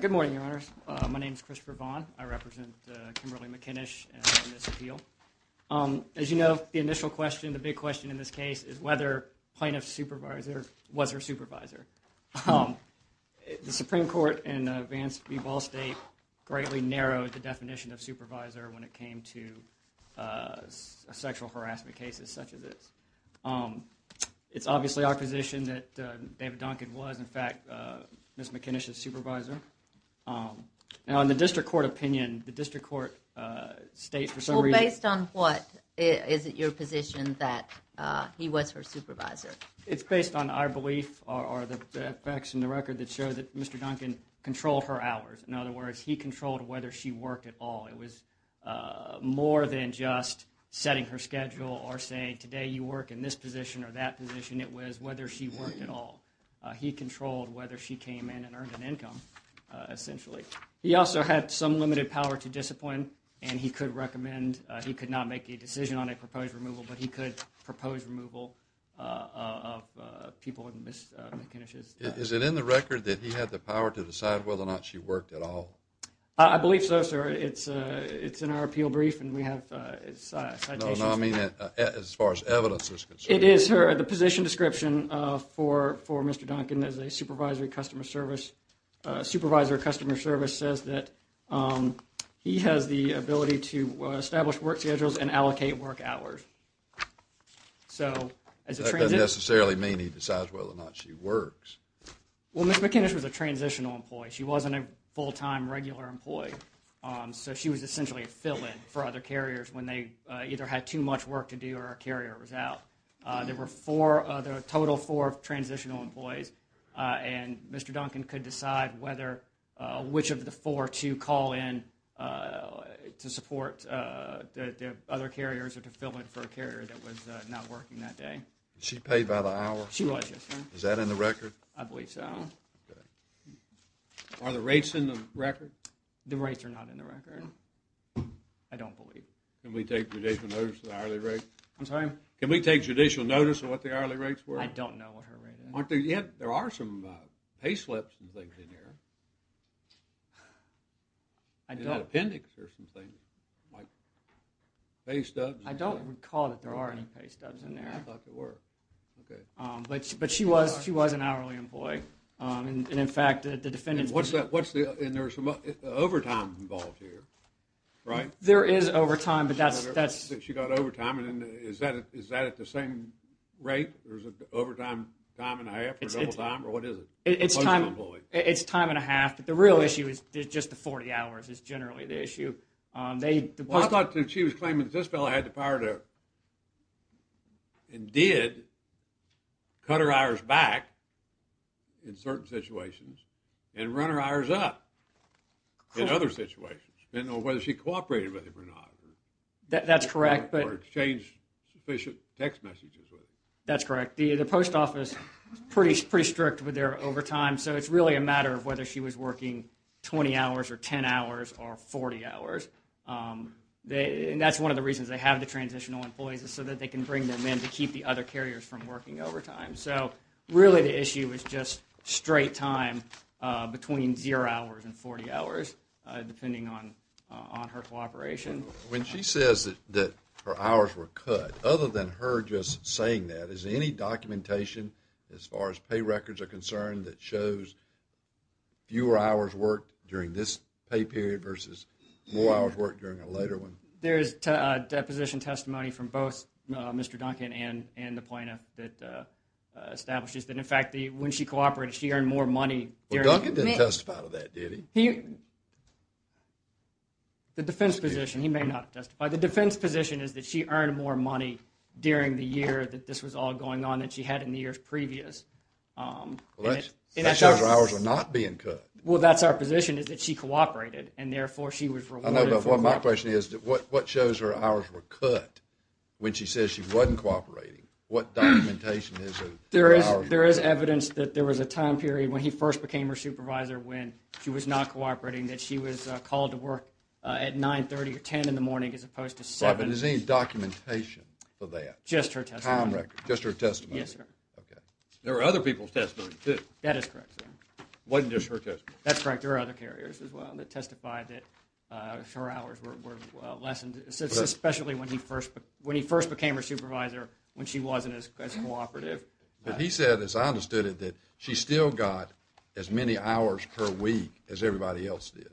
Good morning, Your Honors. My name is Christopher Vaughn. I represent Kimberly McKinnish in this appeal. As you know, the initial question, the big question in this case, is whether plaintiff's supervisor was her supervisor. The Supreme Court in Vance v. Ball State greatly narrowed the definition of supervisor when it came to sexual harassment cases such as this. It's obviously our position that David Duncan was, in fact, Ms. McKinnish's supervisor. Now, in the district court opinion, the district court state for some reason... Well, based on what? Is it your position that he was her supervisor? It's based on our belief or the facts in the record that show that Mr. Duncan controlled her hours. In other words, he controlled whether she worked at all. It was more than just setting her schedule or saying, today you work in this position or that position. It was whether she worked at all. He controlled whether she came in and earned an income, essentially. He also had some limited power to discipline, and he could recommend, he could not make a decision on a proposed removal, but he could propose removal of people in Ms. McKinnish's... Is it in the record that he had the power to decide whether or not she worked at all? I believe so, sir. It's in our appeal brief, and we have citations... No, no, I mean as far as evidence is concerned. It is her, the position description for Mr. Duncan as a supervisory customer service, supervisory customer service says that he has the ability to establish work schedules and allocate work hours. So, as a transit... That doesn't necessarily mean he decides whether or not she works. Well, Ms. McKinnish was a transitional employee. She wasn't a full-time regular employee, so she was essentially a fill-in for other carriers when they either had too much work to do or a carrier was out. There were four, there were a total four transitional employees, and Mr. Duncan could decide whether, which of the four to call in to support the other carriers or to fill in for a carrier that was not working that day. She paid by the hour? She was, yes, sir. Is that in the record? I believe so. Are the rates in the record? The rates are not in the record. I don't believe. Can we take judicial notice of the hourly rate? I'm sorry? Can we take judicial notice of what the hourly rates were? I don't know. Aren't there, yeah, there are some pay slips and things in here. I don't recall that there are any pay stubs in there. But she was, she was an hourly employee, and in fact the defendants... And there's some overtime involved here, right? There is overtime, but that's... She got overtime, and is that at the same rate? There's an overtime time and a half, or double time, or what is it? It's time and a half, but the real issue is just the 40 hours is generally the issue. Well, I thought that she was claiming that this fellow had the power to, and did, cut her hours back in certain situations, and run her hours up in other situations. I don't know whether she cooperated with him or not. That's correct, but... Or exchanged sufficient text messages with him. That's correct. The post office is pretty strict with their overtime, so it's really a matter of whether she was working 20 hours, or 10 hours, or 40 hours. And that's one of the reasons they have the transitional employees, is so that they can bring them in to keep the other carriers from working overtime. So, really the issue is just straight time between zero hours and 40 hours, depending on her cooperation. When she says that her hours were cut, other than her just saying that, is there any documentation, as far as pay records are concerned, that shows fewer hours worked during this pay period versus more hours worked during a later one? There is deposition testimony from both Mr. Duncan and the plaintiff that establishes that, in fact, when she cooperated, she earned more money during... Well, Duncan didn't testify to that, did he? The defense position, he may not have testified. The defense position is that she earned more money during the year that this was all going on, than she had in the years previous. Well, that shows her hours are not being cut. Well, that's our position, is that she cooperated, and therefore she was rewarded for cooperating. Well, my question is, what shows her hours were cut when she says she wasn't cooperating? What documentation is there? There is evidence that there was a time period when he first became her supervisor, when she was not cooperating, that she was called to work at 9.30 or 10 in the morning, as opposed to 7. Right, but is there any documentation for that? Just her testimony. Time record. Just her testimony. Yes, sir. There are other people's testimonies, too. That is correct, sir. It wasn't just her testimony. That's correct, there are other carriers, as well, that testified that her hours were lessened, especially when he first became her supervisor, when she wasn't as cooperative. But he said, as I understood it, that she still got as many hours per week as everybody else did.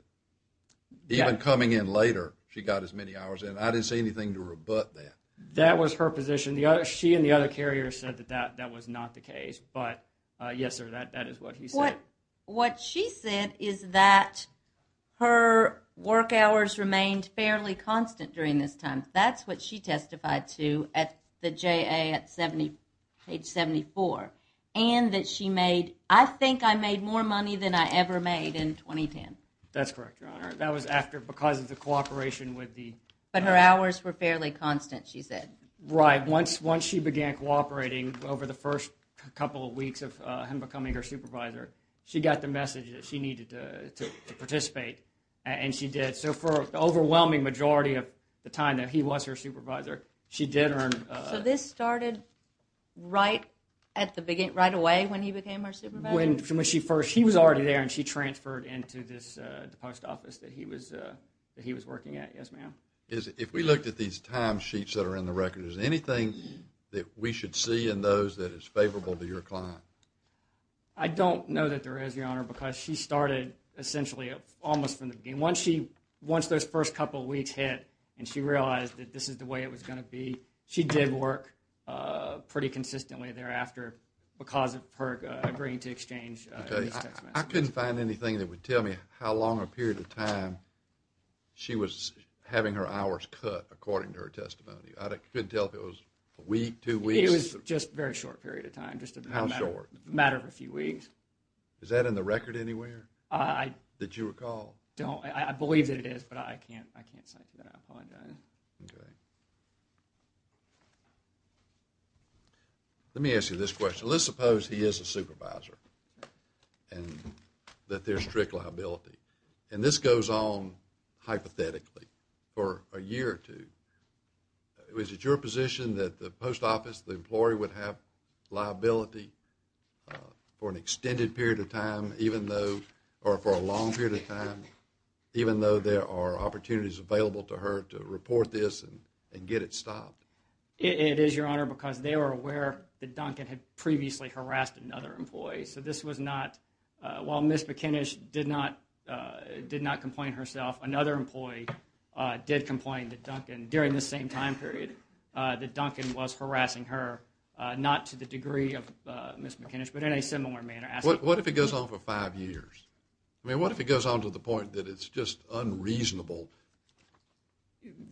Even coming in later, she got as many hours, and I didn't see anything to rebut that. That was her position. She and the other carrier said that that was not the case, but yes, sir, that is what he said. What she said is that her work hours remained fairly constant during this time. That's what she testified to at the JA at page 74. And that she made, I think I made more money than I ever made in 2010. That's correct, Your Honor. That was after, because of the cooperation with the… But her hours were fairly constant, she said. Right, once she began cooperating over the first couple of weeks of him becoming her supervisor, she got the message that she needed to participate, and she did. So for the overwhelming majority of the time that he was her supervisor, she did earn… So this started right at the beginning, right away when he became her supervisor? When she first, he was already there, and she transferred into this post office that he was working at. Yes, ma'am. If we looked at these time sheets that are in the record, is there anything that we should see in those that is favorable to your client? I don't know that there is, Your Honor, because she started essentially almost from the beginning. Once she, once those first couple of weeks hit, and she realized that this is the way it was going to be, she did work pretty consistently thereafter because of her agreeing to exchange… I couldn't find anything that would tell me how long a period of time she was having her hours cut according to her testimony. I couldn't tell if it was a week, two weeks… It was just a very short period of time. How short? Just a matter of a few weeks. Is that in the record anywhere? I… That you recall? I believe that it is, but I can't cite that. I apologize. Okay. Let me ask you this question. Let's suppose he is a supervisor and that there's strict liability, and this goes on hypothetically for a year or two. Is it your position that the post office, the employee would have liability for an extended period of time even though, or for a long period of time, even though there are opportunities available to her to report this and get it stopped? It is, Your Honor, because they were aware that Duncan had previously harassed another employee. So this was not, while Ms. McInnish did not complain herself, another employee did complain to Duncan during this same time period that Duncan was harassing her, not to the degree of Ms. McInnish, but in a similar manner. What if it goes on for five years? I mean, what if it goes on to the point that it's just unreasonable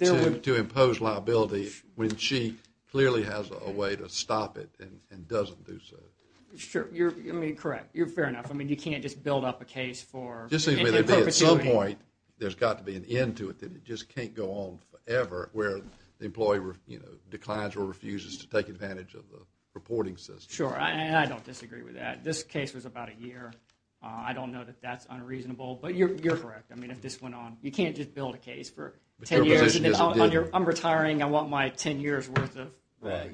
to impose liability when she clearly has a way to stop it and doesn't do so? Sure. You're, I mean, correct. You're fair enough. I mean, you can't just build up a case for At some point, there's got to be an end to it that it just can't go on forever where the employee declines or refuses to take advantage of the reporting system. Sure, and I don't disagree with that. This case was about a year. I don't know that that's unreasonable, but you're correct. I mean, if this went on, you can't just build a case for ten years and then on your, I'm retiring, I want my ten years worth of, that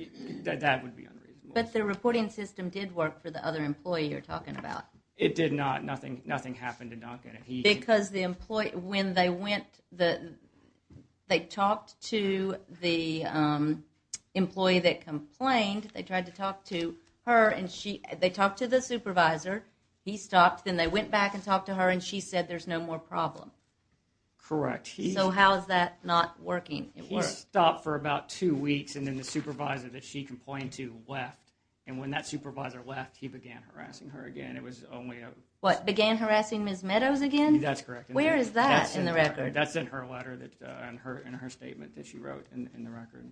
would be unreasonable. But the reporting system did work for the other employee you're talking about. It did not. Nothing happened to Duncan. Because the employee, when they went, they talked to the employee that complained, they tried to talk to her and she, they talked to the supervisor, he stopped, then they went back and talked to her and she said there's no more problem. Correct. So how is that not working? He stopped for about two weeks and then the supervisor that she complained to left and when that supervisor left, he began harassing her again. What, began harassing Ms. Meadows again? That's correct. Where is that in the record? That's in her letter, in her statement that she wrote in the record.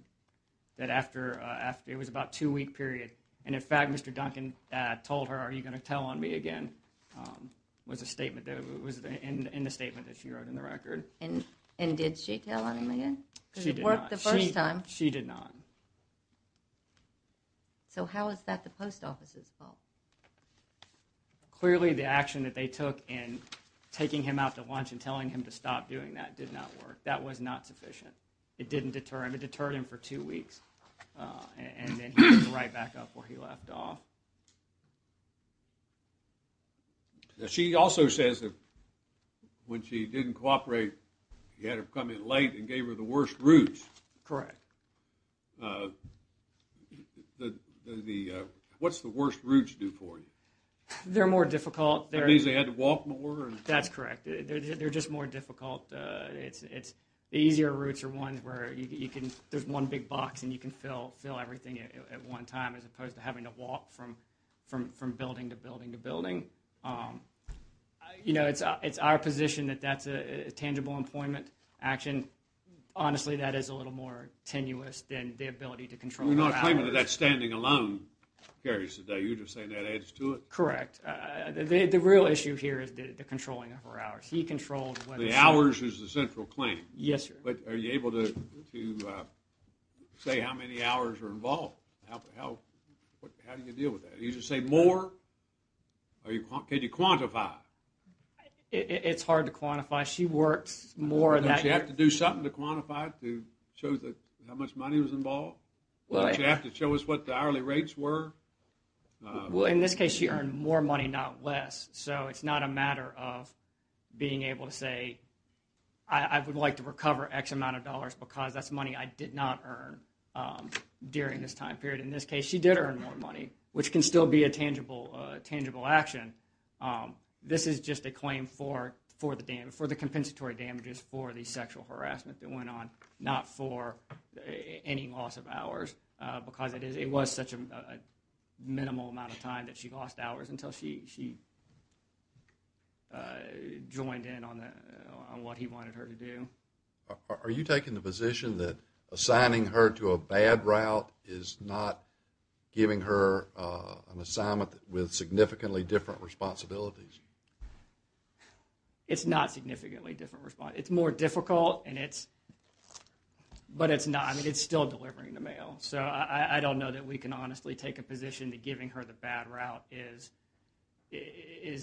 That after, it was about a two week period and in fact Mr. Duncan told her, are you going to tell on me again? It was a statement, it was in the statement that she wrote in the record. And did she tell on him again? She did not. Because it worked the first time. She did not. So how is that the post office's fault? Clearly the action that they took in taking him out to lunch and telling him to stop doing that did not work. That was not sufficient. It didn't deter him, it deterred him for two weeks and then he went right back up where he left off. She also says that when she didn't cooperate you had her come in late and gave her the worst routes. Correct. What's the worst routes do for you? They're more difficult. That means they had to walk more? That's correct. They're just more difficult. The easier routes are ones where there's one big box and you can fill everything at one time as opposed to having to walk from building to building to building. It's our position that that's a tangible employment action. Honestly that is a little more tenuous than the ability to control her hours. Well not a claimant of that standing alone carries the day. You're just saying that adds to it. Correct. The real issue here is the controlling of her hours. The hours is the central claim. Yes sir. But are you able to say how many hours are involved? How do you deal with that? Do you just say more? Can you quantify? It's hard to quantify. She works more than... Don't you have to do something to quantify it to show how much money was involved? Don't you have to show us what the hourly rates were? Well in this case she earned more money not less so it's not a matter of being able to say I would like to recover X amount of dollars because that's money I did not earn during this time period. In this case she did earn more money which can still be a tangible action. This is just a claim for the compensatory damages for the sexual harassment that went on not for any loss of hours because it was such a minimal amount of time that she lost hours until she joined in on what he wanted her to do. Are you taking the position that assigning her to a bad route is not giving her an assignment with significantly different responsibilities? It's not significantly different. It's more difficult but it's still delivering the mail. So I don't know that we can honestly take a position that giving her the bad route is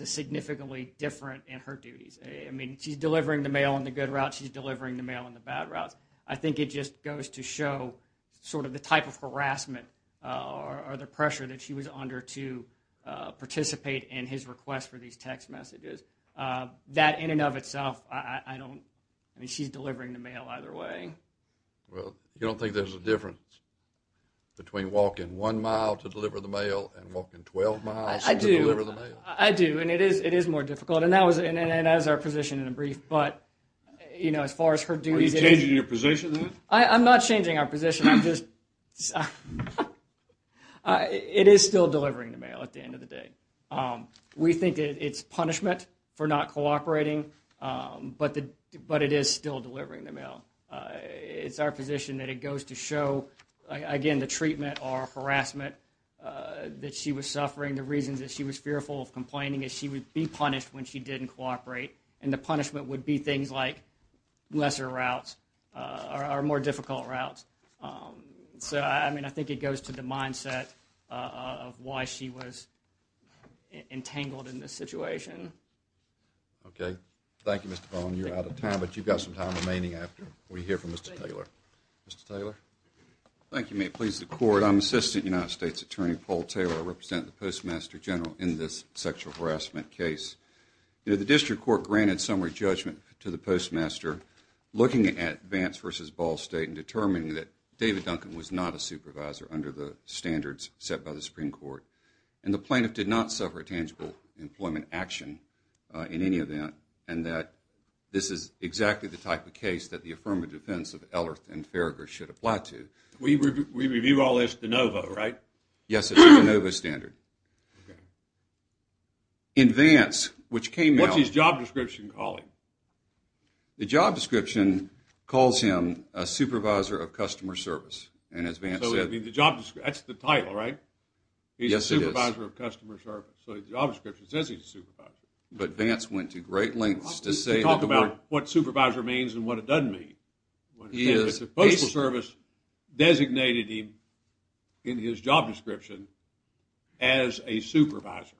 significantly different in her duties. I mean she's delivering the mail on the good route she's delivering the mail on the bad route. I think it just goes to show sort of the type of harassment or the pressure that she was under to participate in his request for these text messages. That in and of itself I don't, I mean she's delivering the mail either way. Well you don't think there's a difference between walking one mile to deliver the mail and walking 12 miles to deliver the mail? I do and it is more difficult and that was our position in a brief but you know as far as her duties Are you changing your position then? I'm not changing our position I'm just it is still delivering the mail at the end of the day. We think it's punishment for not cooperating but it is still delivering the mail. It's our position that it goes to show again the treatment or harassment that she was suffering the reasons that she was fearful of complaining is she would be punished when she didn't cooperate and the punishment would be things like lesser routes or more difficult routes so I mean I think it goes to the mindset of why she was entangled in this situation. Okay. Thank you Mr. Bowen you're out of time but you've got some time remaining after we hear from Mr. Taylor. Mr. Taylor? I'm Assistant United States Attorney Paul Taylor I represent the Postmaster General in this sexual harassment case The District Court granted summary judgment to the Postmaster looking at Vance v. Ball State and determining that David Duncan was not a supervisor under the standards set by the Supreme Court and the plaintiff did not suffer a tangible employment action in any event and that this is exactly the type of case that the affirmative defense of Ellerth and Farragher should apply to We review all this de novo right? Yes it's a de novo standard In Vance What's his job description call him? The job description calls him a supervisor of customer service That's the title right? Yes it is So the job description says he's a supervisor But Vance went to great lengths to talk about what supervisor means and what it doesn't mean The Postal Service designated him in his job description as a supervisor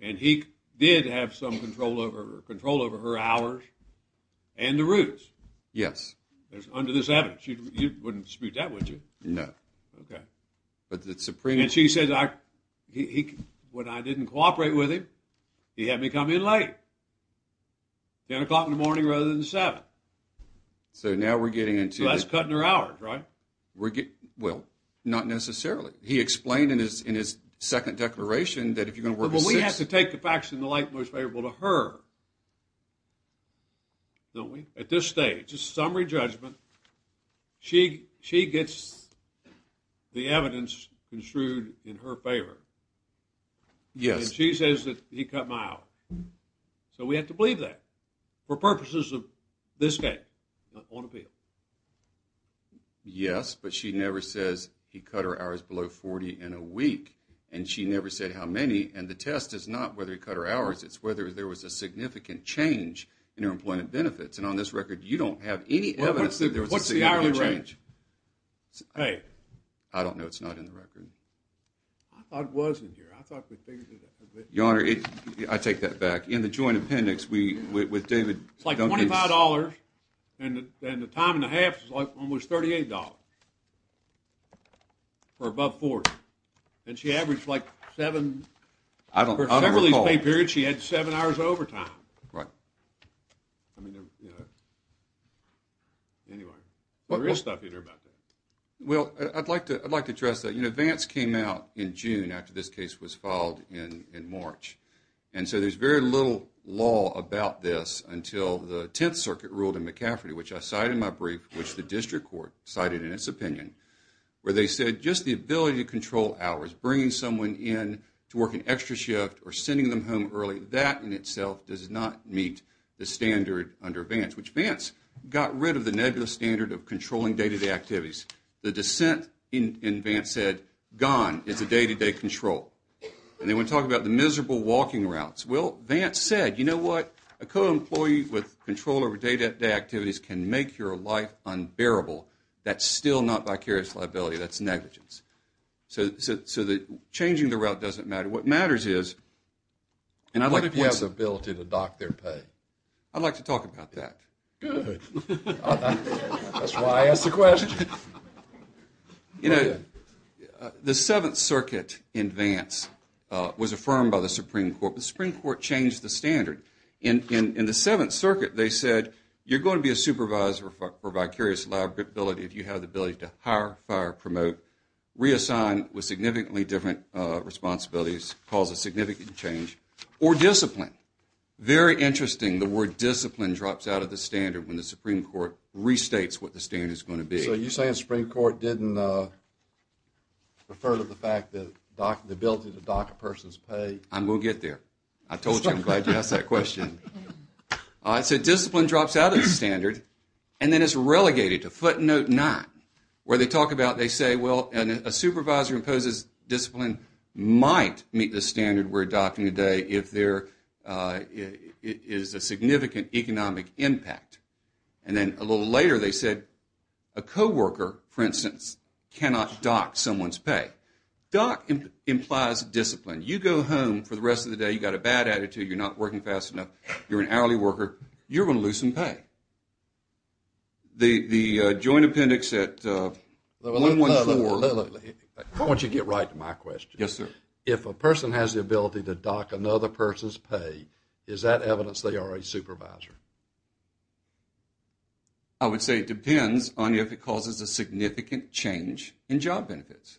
and he did have some control over her hours and the routes under this evidence You wouldn't dispute that would you? No And she said when I didn't cooperate with him he had me come in late 10 o'clock in the morning rather than 7 So now we're getting So that's cutting her hours right? Well not necessarily He explained in his second declaration that if you're going to work Well we have to take the facts and the light most favorable to her Don't we? At this stage summary judgment she gets the evidence construed in her favor Yes She says that he cut my hours So we have to believe that for purposes of this case on appeal Yes but she never says he cut her hours below 40 in a week and she never said how many and the test is not whether he cut her hours it's whether there was a significant change in her employment benefits and on this record you don't have any evidence What's the hourly rate? I don't know it's not in the record I thought it was in here I thought we figured it out I take that back In the joint appendix It's like $25 and the time and a half was like $38 or above 40 and she averaged like 7 I don't recall She had 7 hours of overtime Right Anyway There is stuff in there about that Well I'd like to address that Vance came out in June after this case was filed in March and so there is very little law about this until the 10th circuit ruled in McCafferty which I cited in my brief which the district court cited in its opinion where they said just the ability to control hours, bringing someone in to work an extra shift or sending them home early, that in itself does not meet the standard under Vance which Vance got rid of the negative of controlling day-to-day activities the dissent in Vance said gone is the day-to-day control and then we talk about the miserable walking routes, well Vance said you know what, a co-employee with control over day-to-day activities can make your life unbearable that's still not vicarious liability that's negligence so changing the route doesn't matter what matters is What if you have the ability to dock their pay? I'd like to talk about that Good That's why I asked the question You know the 7th circuit in Vance was affirmed by the Supreme Court the Supreme Court changed the standard in the 7th circuit they said you're going to be a supervisor for vicarious liability if you have the ability to hire, fire, promote reassign with significantly different responsibilities cause a significant change or discipline, very interesting the word discipline drops out of the standard when the Supreme Court restates what the standard is going to be So you're saying the Supreme Court didn't refer to the fact that the ability to dock a person's pay I'm going to get there I told you I'm glad you asked that question So discipline drops out of the standard and then it's relegated to footnote 9 where they talk about they say a supervisor imposes discipline might meet the standard we're adopting today if there is a significant economic impact and then a little later they said a co-worker for instance, cannot dock someone's pay. Dock implies discipline. You go home for the rest of the day, you've got a bad attitude you're not working fast enough, you're an hourly worker you're going to lose some pay The joint appendix at 114 Why don't you get right to my question If a person has the ability to dock another person's pay is that evidence they are a supervisor? I would say it depends on if it causes a significant change in job benefits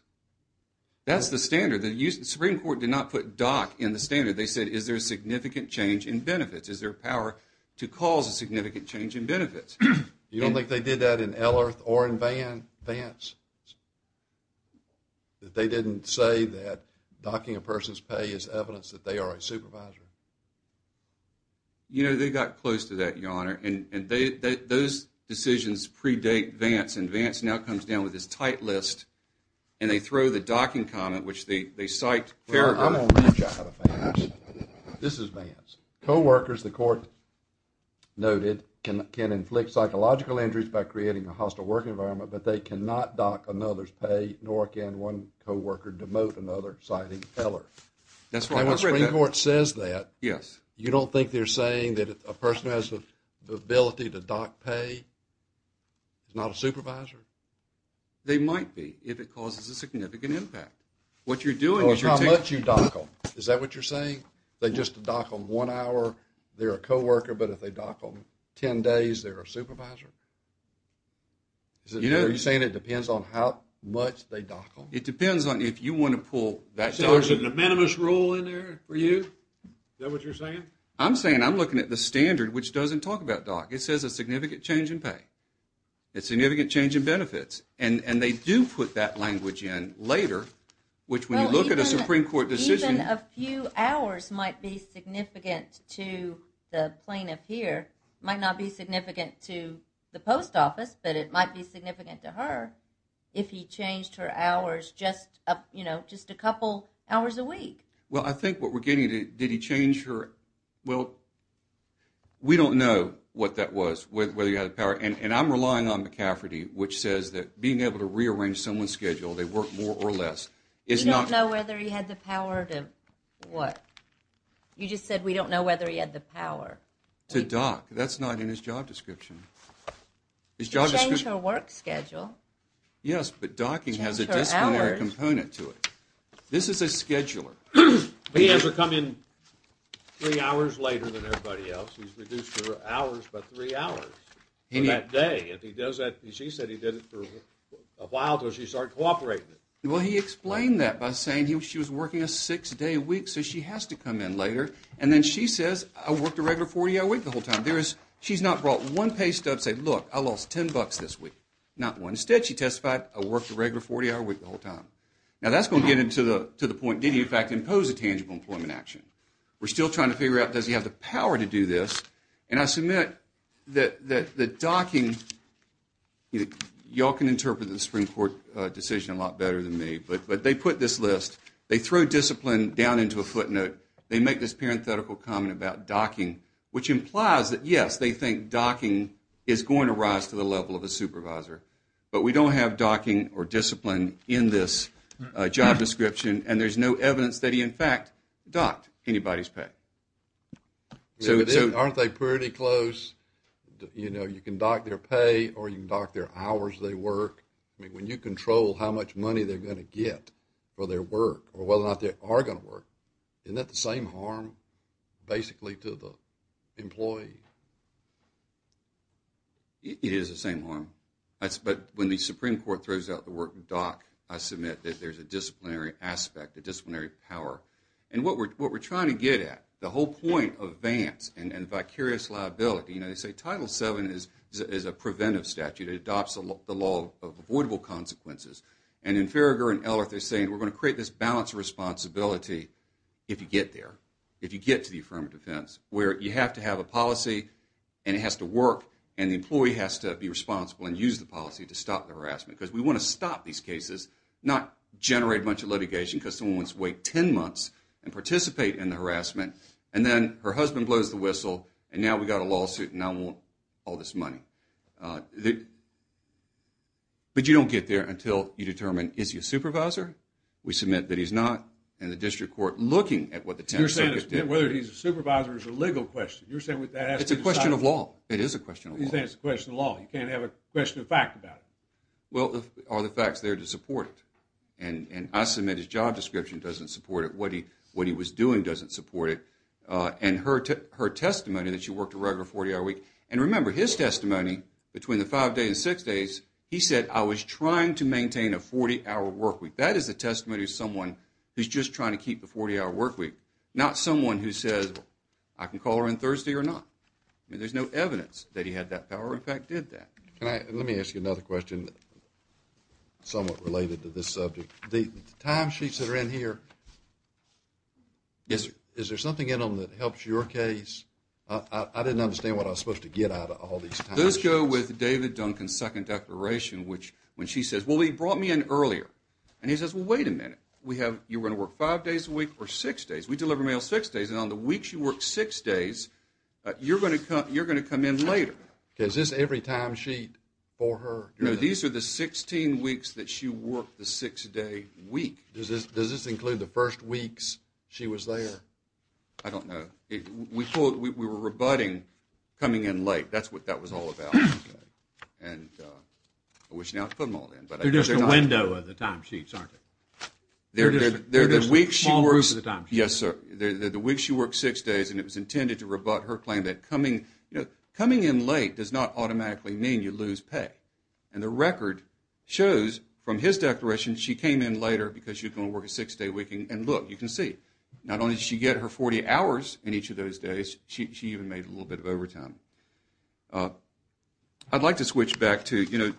That's the standard. The Supreme Court did not put dock in the standard. They said is there a significant change in benefits is there a power to cause a significant change in benefits You don't think they did that in Ellerth or in Vance? That they didn't say that docking a person's pay is evidence that they are a supervisor? You know they got close to that Your Honor Those decisions predate Vance and Vance now comes down with this tight list and they throw the docking comment which they cite paragraph This is Vance Co-workers the court noted can inflict psychological injuries by creating a hostile work environment but they cannot dock another's pay nor can one co-worker demote another citing Ellerth And when the Supreme Court says that you don't think they are saying that a person who has the ability to dock pay is not a supervisor? They might be if it causes a significant impact How much do you dock them? Is that what you are saying? They are a co-worker but if they dock them 10 days is there a supervisor? Are you saying it depends on how much they dock them? It depends on if you want to pull So there is a de minimis rule in there for you? Is that what you are saying? I'm looking at the standard which doesn't talk about docking. It says a significant change in pay a significant change in benefits and they do put that language in later which when you look at a Supreme Court decision Even a few hours might be significant to the plaintiff It might not be significant to the post office but it might be significant to her if he changed her hours just a couple hours a week I think what we are getting at did he change her we don't know what that was and I'm relying on McCafferty which says that being able to rearrange someone's schedule they work more or less You don't know whether he had the power you just said we don't know To dock That's not in his job description To change her work schedule Yes but docking has a disciplinary component to it This is a scheduler He has her come in three hours later than everybody else He's reduced her hours by three hours in that day She said he did it for a while until she started cooperating Well he explained that by saying she was working a six day week so she has to come in later and then she says I worked a regular 40 hour week the whole time She's not brought one page to say I lost 10 bucks this week Instead she testified I worked a regular 40 hour week Now that's going to get into the point Did he in fact impose a tangible employment action We're still trying to figure out does he have the power to do this and I submit that the docking Y'all can interpret the Supreme Court decision a lot better than me but they put this list they throw discipline down into a footnote they make this parenthetical comment about docking which implies that yes they think docking is going to rise to the level of a supervisor but we don't have docking or discipline in this job description and there's no evidence that he in fact docked anybody's pay Aren't they pretty close You know you can dock their pay or you can dock their hours they work I mean when you control how much money they're going to get for their work or whether or not they are going to work isn't that the same harm basically to the employee It is the same harm but when the Supreme Court throws out the word dock I submit that there's a disciplinary aspect, a disciplinary power and what we're trying to get at the whole point of Vance and vicarious liability you know they say Title VII is a preventive statute it adopts the law of avoidable consequences and in Farragher and Ellert they're saying we're going to create this balance of responsibility if you get there if you get to the affirmative defense where you have to have a policy and it has to work and the employee has to be responsible and use the policy to stop the harassment because we want to stop these cases not generate a bunch of litigation because someone wants to wait 10 months and participate in the harassment and then her husband blows the whistle and now we've got a lawsuit and I want all this money but you don't get there until you determine is he a supervisor we submit that he's not and the district court looking at what the 10th Circuit did it's a question of law you can't have a question of fact about it well are the facts there to support it and I submit his job description doesn't support it what he was doing doesn't support it and her testimony that she worked a regular 40 hour week and remember his testimony between the 5 days and 6 days he said I was trying to maintain a 40 hour work week that is the testimony of someone who's just trying to keep the 40 hour work week not someone who says I can call her on Thursday or not there's no evidence that he had that power in fact did that let me ask you another question somewhat related to this subject the time sheets that are in here is there something in them that helps your case I didn't understand what I was supposed to get out of all these times those go with David Duncan's second declaration when she says well he brought me in earlier and he says well wait a minute you were going to work 5 days a week or 6 days we deliver mail 6 days and on the week she worked 6 days you're going to come in later is this every time sheet for her these are the 16 weeks that she worked the 6 day week does this include the first weeks she was there I don't know we were rebutting coming in late that's what that was all about and I wish now to put them all in they're just a window of the time sheets aren't they they're just a small group of the time sheets the week she worked 6 days and it was intended to rebut her claim that coming coming in late does not automatically mean you lose pay and the record shows from his declaration she came in later because she was going to work a 6 day week and look you can see not only did she get her 40 hours in each of those days she even made a little bit of overtime I'd like to switch back to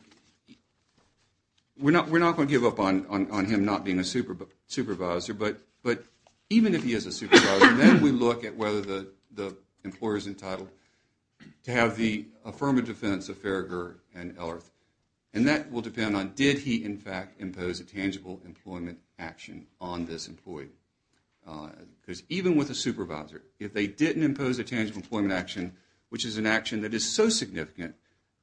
we're not going to give up on him not being a supervisor but even if he is a supervisor then we look at whether the employer is entitled to have the affirmative defense of Farragher and Ellerth and that will depend on did he in fact impose a tangible employment action on this employee because even with a supervisor if they didn't impose a tangible employment action which is an action that is so significant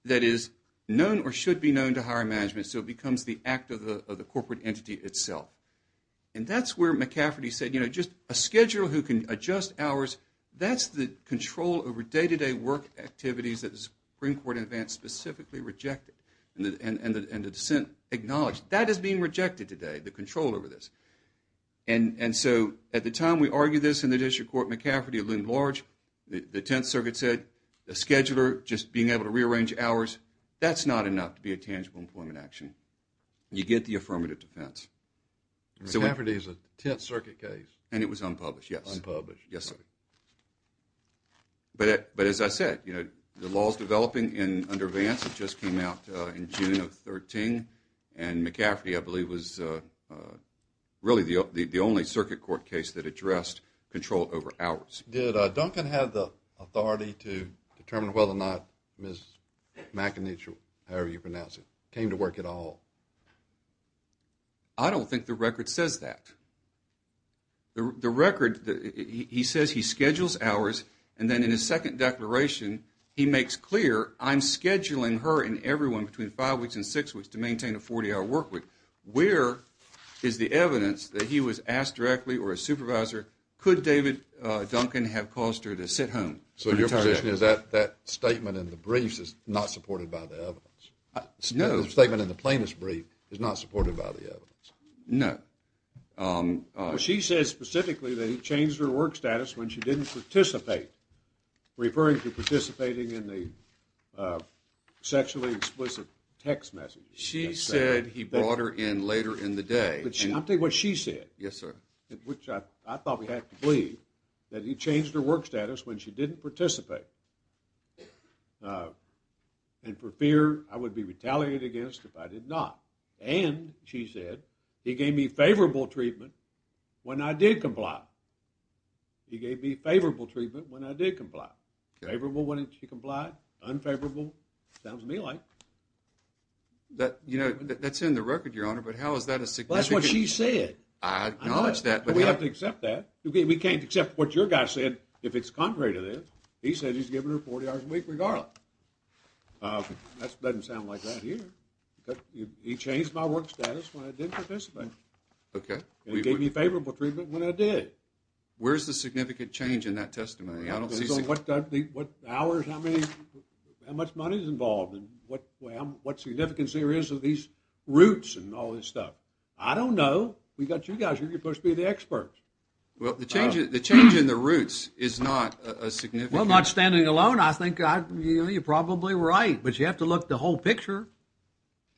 that is known or should be known to higher management so it becomes the act of the corporate entity itself and that's where McCafferty said a scheduler who can adjust hours that's the control over day to day work activities that the Supreme Court specifically rejected and the dissent acknowledged that is being rejected today the control over this and so at the time we argued this in the district court McCafferty loomed large the 10th circuit said a scheduler just being able to rearrange hours that's not enough to be a tangible employment action you get the affirmative defense McCafferty is a 10th circuit case and it was unpublished unpublished yes sir but as I said the law is developing under Vance it just came out in June of 2013 and McCafferty I believe was really the only circuit court case that addressed control over hours did Duncan have the authority to determine whether or not Ms. McInitial however you pronounce it came to work at all I don't think the record says that the record he says he schedules hours and then in his second declaration he makes clear I'm scheduling her and everyone between 5 weeks and 6 weeks to maintain a 40 hour work week where is the evidence that he was asked directly or a supervisor could David Duncan have caused her to sit home so your position is that statement in the brief is not supported by the evidence no the statement in the plaintiff's brief is not supported by the evidence no she says specifically that he changed her work status when she didn't participate referring to participating in the sexually explicit text message she said he brought her in later in the day I'll tell you what she said which I thought we had to believe that he changed her work status when she didn't participate and for fear I would be retaliated against if I did not and she said he gave me favorable treatment when I did comply he gave me favorable treatment when I did comply favorable when she complied unfavorable sounds to me like that's in the record your honor but how is that a significant that's what she said we have to accept that we can't accept what your guy said if it's contrary to this he said he's giving her 40 hours a week regardless that doesn't sound like that here he changed my work status when I didn't participate he gave me favorable treatment when I did where's the significant change in that testimony what hours how much money is involved what significance there is of these roots I don't know you guys are supposed to be the experts the change in the roots is not a significant well not standing alone you're probably right but you have to look at the whole picture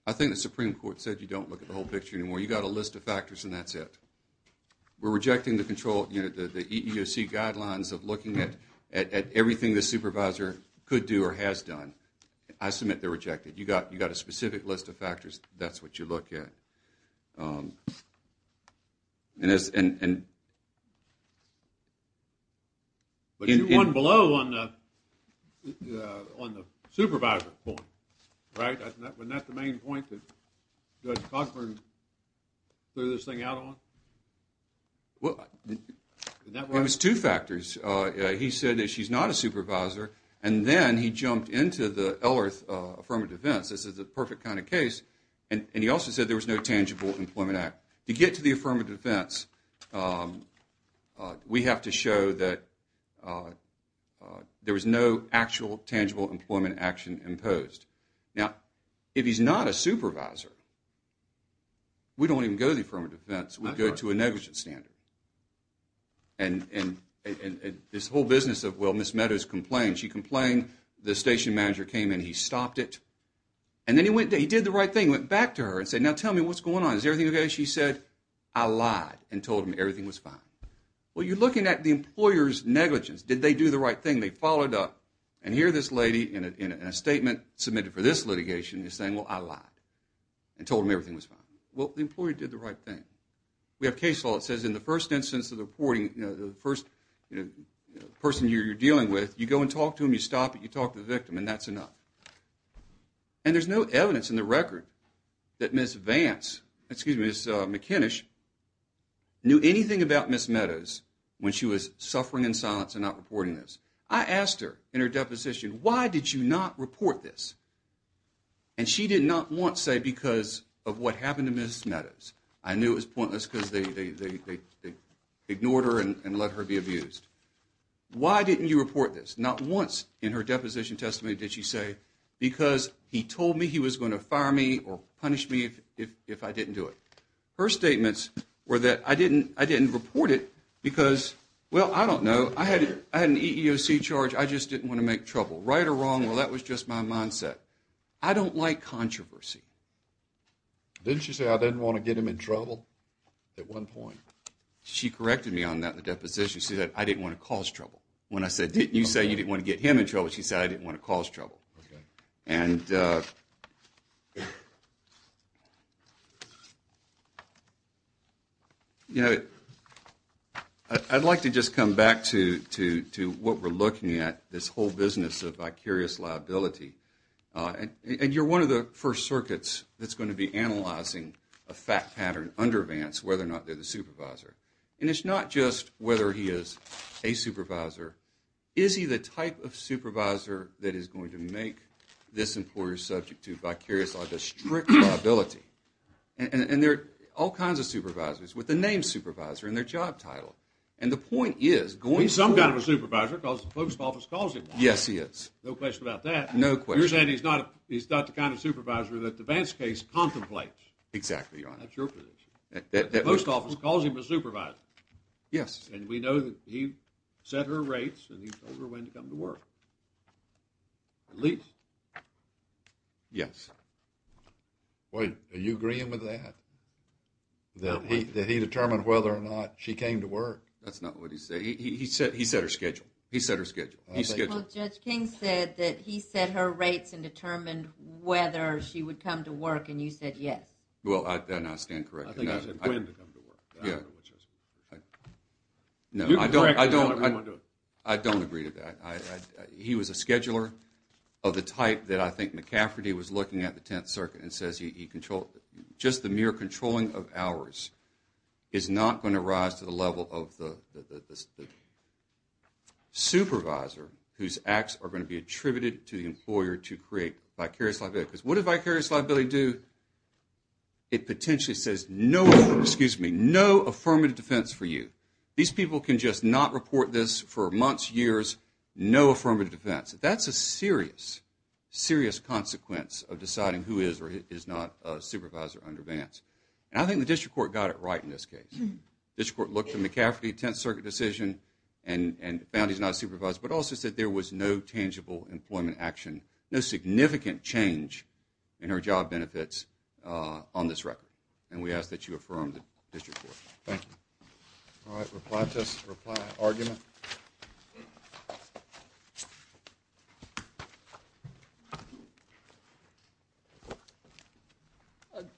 I think the supreme court said you don't look at the whole picture anymore you got a list of factors and that's it we're rejecting the control the EEOC guidelines of looking at everything the supervisor could do or has done I submit they're rejected you got a specific list of factors that's what you look at and but you're one below on the supervisor point right wasn't that the main point that Judge Cogburn threw this thing out on well it was two factors he said that she's not a supervisor and then he jumped into the Ellerth affirmative defense this is the perfect kind of case and he also said there was no tangible employment act to get to the affirmative defense we have to show that there was no actual tangible employment action imposed now if he's not a supervisor we don't even go to the affirmative defense we go to a negligence standard and this whole business of well Ms. Meadows complained the station manager came and he stopped it and then he did the right thing went back to her and said now tell me what's going on is everything okay she said I lied and told him everything was fine well you're looking at the employer's negligence did they do the right thing they followed up and here this lady in a statement submitted for this litigation is saying well I lied and told him everything was fine well the employer did the right thing we have case law that says in the first instance of the reporting the first person you're dealing with you go and talk to them you stop it you talk to the victim and that's enough and there's no evidence in the record that Ms. Vance excuse me Ms. McInish knew anything about Ms. Meadows when she was suffering in silence and not reporting this I asked her in her deposition why did you not report this and she did not once say because of what happened to Ms. Meadows I knew it was pointless because they ignored her and let her be abused why didn't you report this not once in her deposition testimony did she say because he told me he was going to fire me or punish me if I didn't do it her statements were that I didn't report it because well I don't know I had an EEOC charge I just didn't want to make trouble right or wrong well that was just my mindset I don't like controversy didn't she say I didn't want to get him in trouble at one point she corrected me on that in the deposition she said I didn't want to cause trouble when I said didn't you say you didn't want to get him in trouble she said I didn't want to cause trouble and you know I'd like to just come back to what we're looking at this whole business of vicarious liability and you're one of the first circuits that's going to be analyzing a fact pattern under Vance whether or not they're the supervisor and it's not just whether he is a supervisor is he the type of supervisor that is going to make this employer subject to vicarious liability a strict liability and there are all kinds of supervisors with the name supervisor and their job title and the point is going some kind of a supervisor because the post office calls him that no question about that you're saying he's not the kind of supervisor that the Vance case contemplates that's your position the post office calls him a supervisor and we know that he set her rates and he told her when to come to work at least yes wait are you agreeing with that that he determined whether or not she came to work that's not what he said, he said her schedule he said her schedule Judge King said that he set her rates and determined whether she would come to work and you said yes well then I stand corrected I think you said when to come to work no I don't I don't agree to that he was a scheduler of the type that I think McCafferty was looking at the 10th circuit and says he controlled just the mere controlling of hours is not going to rise to the level of the supervisor whose acts are going to be attributed to the employer to create vicarious liability because what does vicarious liability do it potentially says no affirmative defense for you these people can just not report this for months, years no affirmative defense that's a serious consequence of deciding who is or is not a supervisor under Vance and I think the district court got it right in this case the district court looked at McCafferty 10th circuit decision and found he's not a supervisor but also said there was no tangible employment action no significant change in her job benefits on this record and we ask that you affirm the district court thank you alright reply test, reply, argument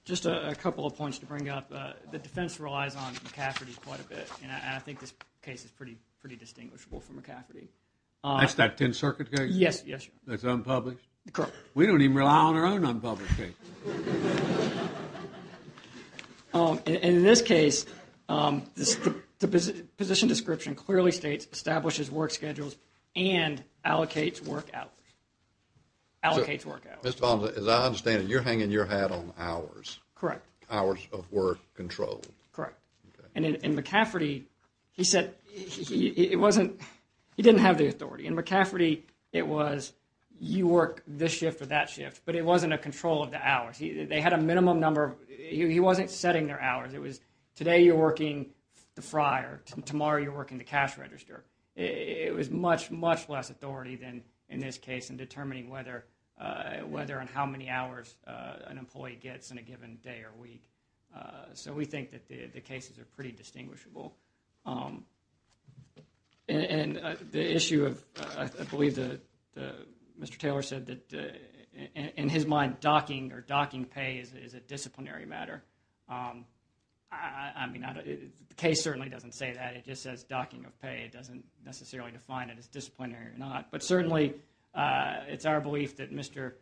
just a couple of points to bring up the defense relies on McCafferty quite a bit and I think this case is pretty distinguishable from McCafferty that's that 10th circuit case? yes, yes sir that's unpublished? we don't even rely on our own unpublished case laughter and in this case the position description clearly states establishes work schedules and allocates work hours allocates work hours as I understand it you're hanging your hat on hours, hours of work control in McCafferty he said it wasn't he didn't have the authority, in McCafferty it was you work this shift or that shift but it wasn't a control of the hours, they had a minimum number he wasn't setting their hours it was today you're working the fryer, tomorrow you're working the cash register it was much less authority than in this case in determining whether and how many hours an employee gets in a given day or week so we think that the cases are pretty distinguishable and the issue of I believe that Mr. Taylor said that in his mind docking or docking pay is a disciplinary matter I mean the case certainly doesn't say that, it just says docking of pay, it doesn't necessarily define it as disciplinary or not but certainly it's our belief that Mr.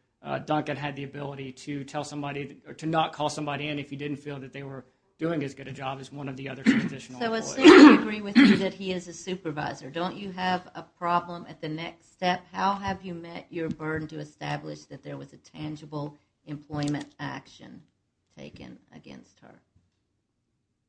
Duncan had the ability to tell somebody or to not call somebody in if you didn't feel that they were doing as good a job as one of the other conditional employees I agree with you that he is a supervisor don't you have a problem at the next step, how have you met your burden to establish that there was a tangible employment action taken against her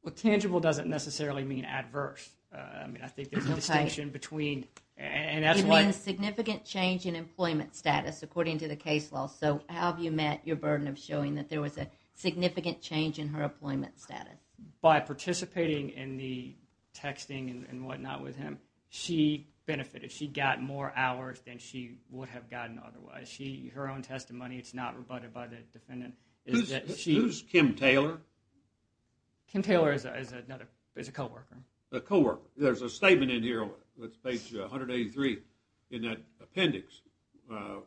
well tangible doesn't necessarily mean adverse I think there's a distinction between it means significant change in employment status according to the case law so how have you met your burden of showing that there was a significant change in her employment status by participating in the texting and what not with him she benefited, she got more hours than she would have gotten otherwise her own testimony is not rebutted by the defendant who's Kim Taylor Kim Taylor is a co-worker a co-worker, there's a statement in here on page 183 in that appendix of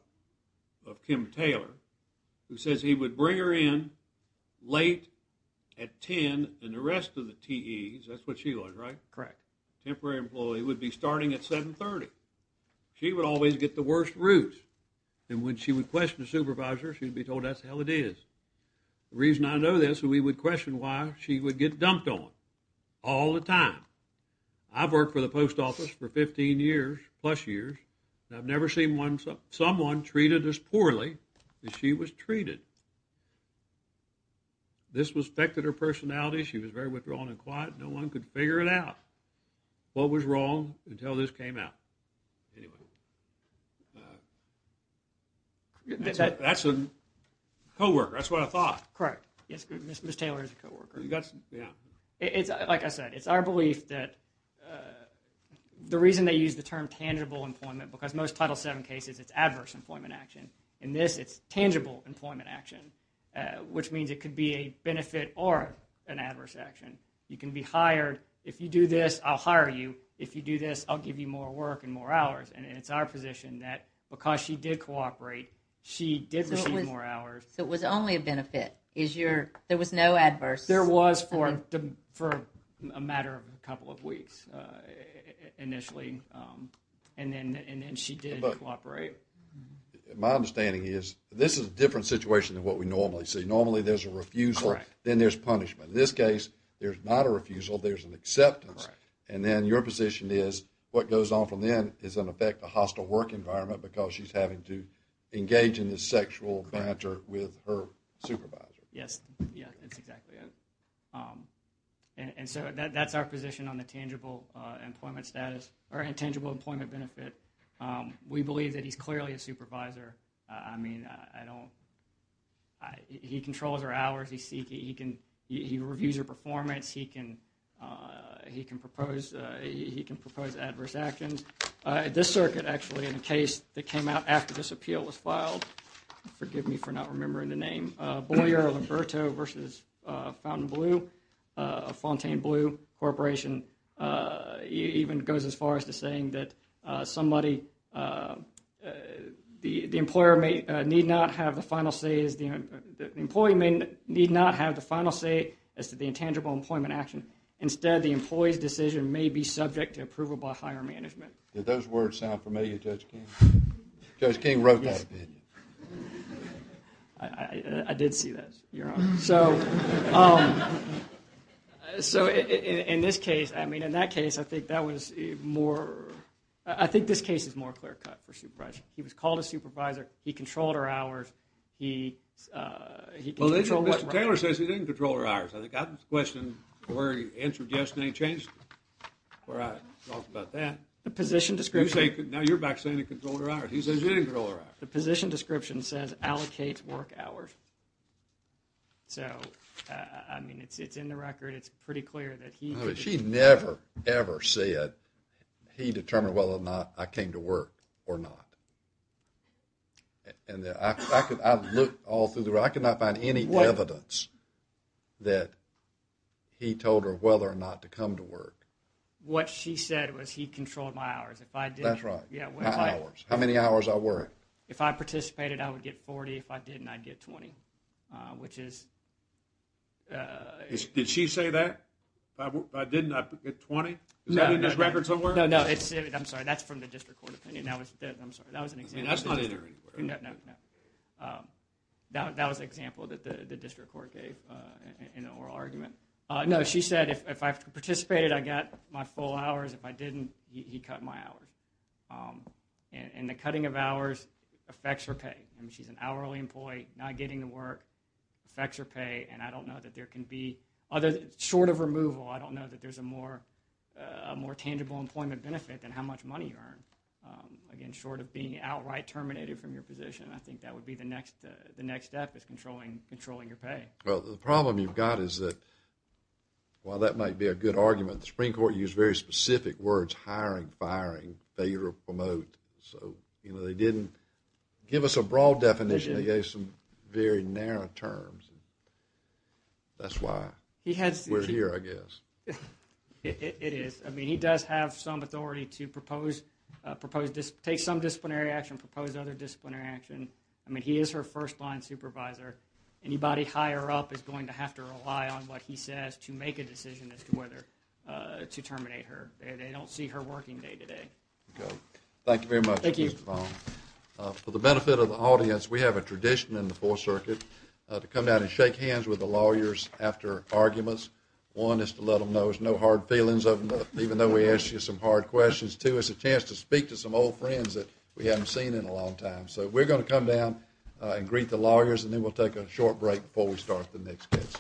Kim Taylor who says he would bring her in late at 10 and the rest of the TE's, that's what she was right temporary employee would be starting at 730, she would always get the worst route and when she would question the supervisor she'd be told that's the hell it is, the reason I know this we would question why she would get dumped on all the time, I've worked for the post office for 15 years plus years and I've never seen someone treated as poorly as she was treated this was affected her personality, she was very withdrawn and quiet, no one could figure it out what was wrong until this came out that's a co-worker, that's what I thought correct, Ms. Taylor is a co-worker it's like I said it's our belief that the reason they use the term tangible employment because most title 7 cases it's adverse employment action, in this it's tangible employment action which means it could be a benefit or an adverse action you can be hired, if you do this I'll hire you, if you do this I'll give you more work and more hours and it's our position that because she did cooperate, she did receive more hours, so it was only a benefit there was no adverse there was for a matter of a couple of weeks initially and then she did cooperate my understanding is this is a different situation than what we normally see, normally there's a refusal then there's punishment, in this case there's not a refusal, there's an acceptance and then your position is what goes on from then is in effect a hostile work environment because she's having to engage in this sexual banter with her supervisor yes, that's exactly it and so that's our position on the tangible employment status, or tangible employment benefit, we believe that he's clearly a supervisor I mean, I don't he controls her hours he reviews her performance, he can he can propose adverse actions, this circuit actually in a case that came out after this appeal was filed forgive me for not remembering the name Boyer-Liberto versus Fontainebleau Fontainebleau Corporation even goes as far as to saying that somebody the employer need not have the final say the employee need not have the final say as to the intangible employment action, instead the employee's decision may be subject to approval by higher management. Did those words sound familiar Judge King? Judge King wrote that, didn't he? I did see that your honor, so so in this case, I mean in that case I think that was more I think this case is more clear cut for called a supervisor, he controlled her hours he Mr. Taylor says he didn't control her hours, I think I have a question where he answered yes and he changed it before I talked about that the position description he says he didn't control her hours the position description says allocates work hours so, I mean it's in the record, it's pretty clear that he she never, ever said he determined whether or not I came to work or not and I could, I looked all through the record I could not find any evidence that he told her whether or not to come to work what she said was he controlled my hours, if I didn't, that's right how many hours I worked if I participated I would get 40, if I didn't I'd get 20, which is did she say that? if I didn't I'd get 20? is that in this record somewhere? I'm sorry, that's from the district court opinion I'm sorry, that was an example no, no that was an example that the district court gave in an oral argument no, she said if I participated I got my full hours if I didn't, he cut my hours and the cutting of hours affects her pay she's an hourly employee, not getting to work affects her pay and I don't know that there can be, short of a more tangible employment benefit than how much money you earn again, short of being outright terminated from your position I think that would be the next step is controlling your pay well, the problem you've got is that while that might be a good argument the Supreme Court used very specific words hiring, firing, failure of promote, so, you know, they didn't give us a broad definition they gave some very narrow terms that's why we're here, I guess it is I mean, he does have some authority to propose take some disciplinary action, propose other disciplinary action I mean, he is her first line supervisor anybody higher up is going to have to rely on what he says to make a decision as to whether to terminate her, they don't see her working day to day thank you very much for the benefit of the audience, we have a tradition in the 4th Circuit to come down and shake hands with the lawyers after arguments, one is to let them know there's no hard feelings of them, even though we asked you some hard questions, two, it's a chance to speak to some old friends that we haven't seen in a long time, so we're going to come down and greet the lawyers and then we'll take a short break before we start the next case applause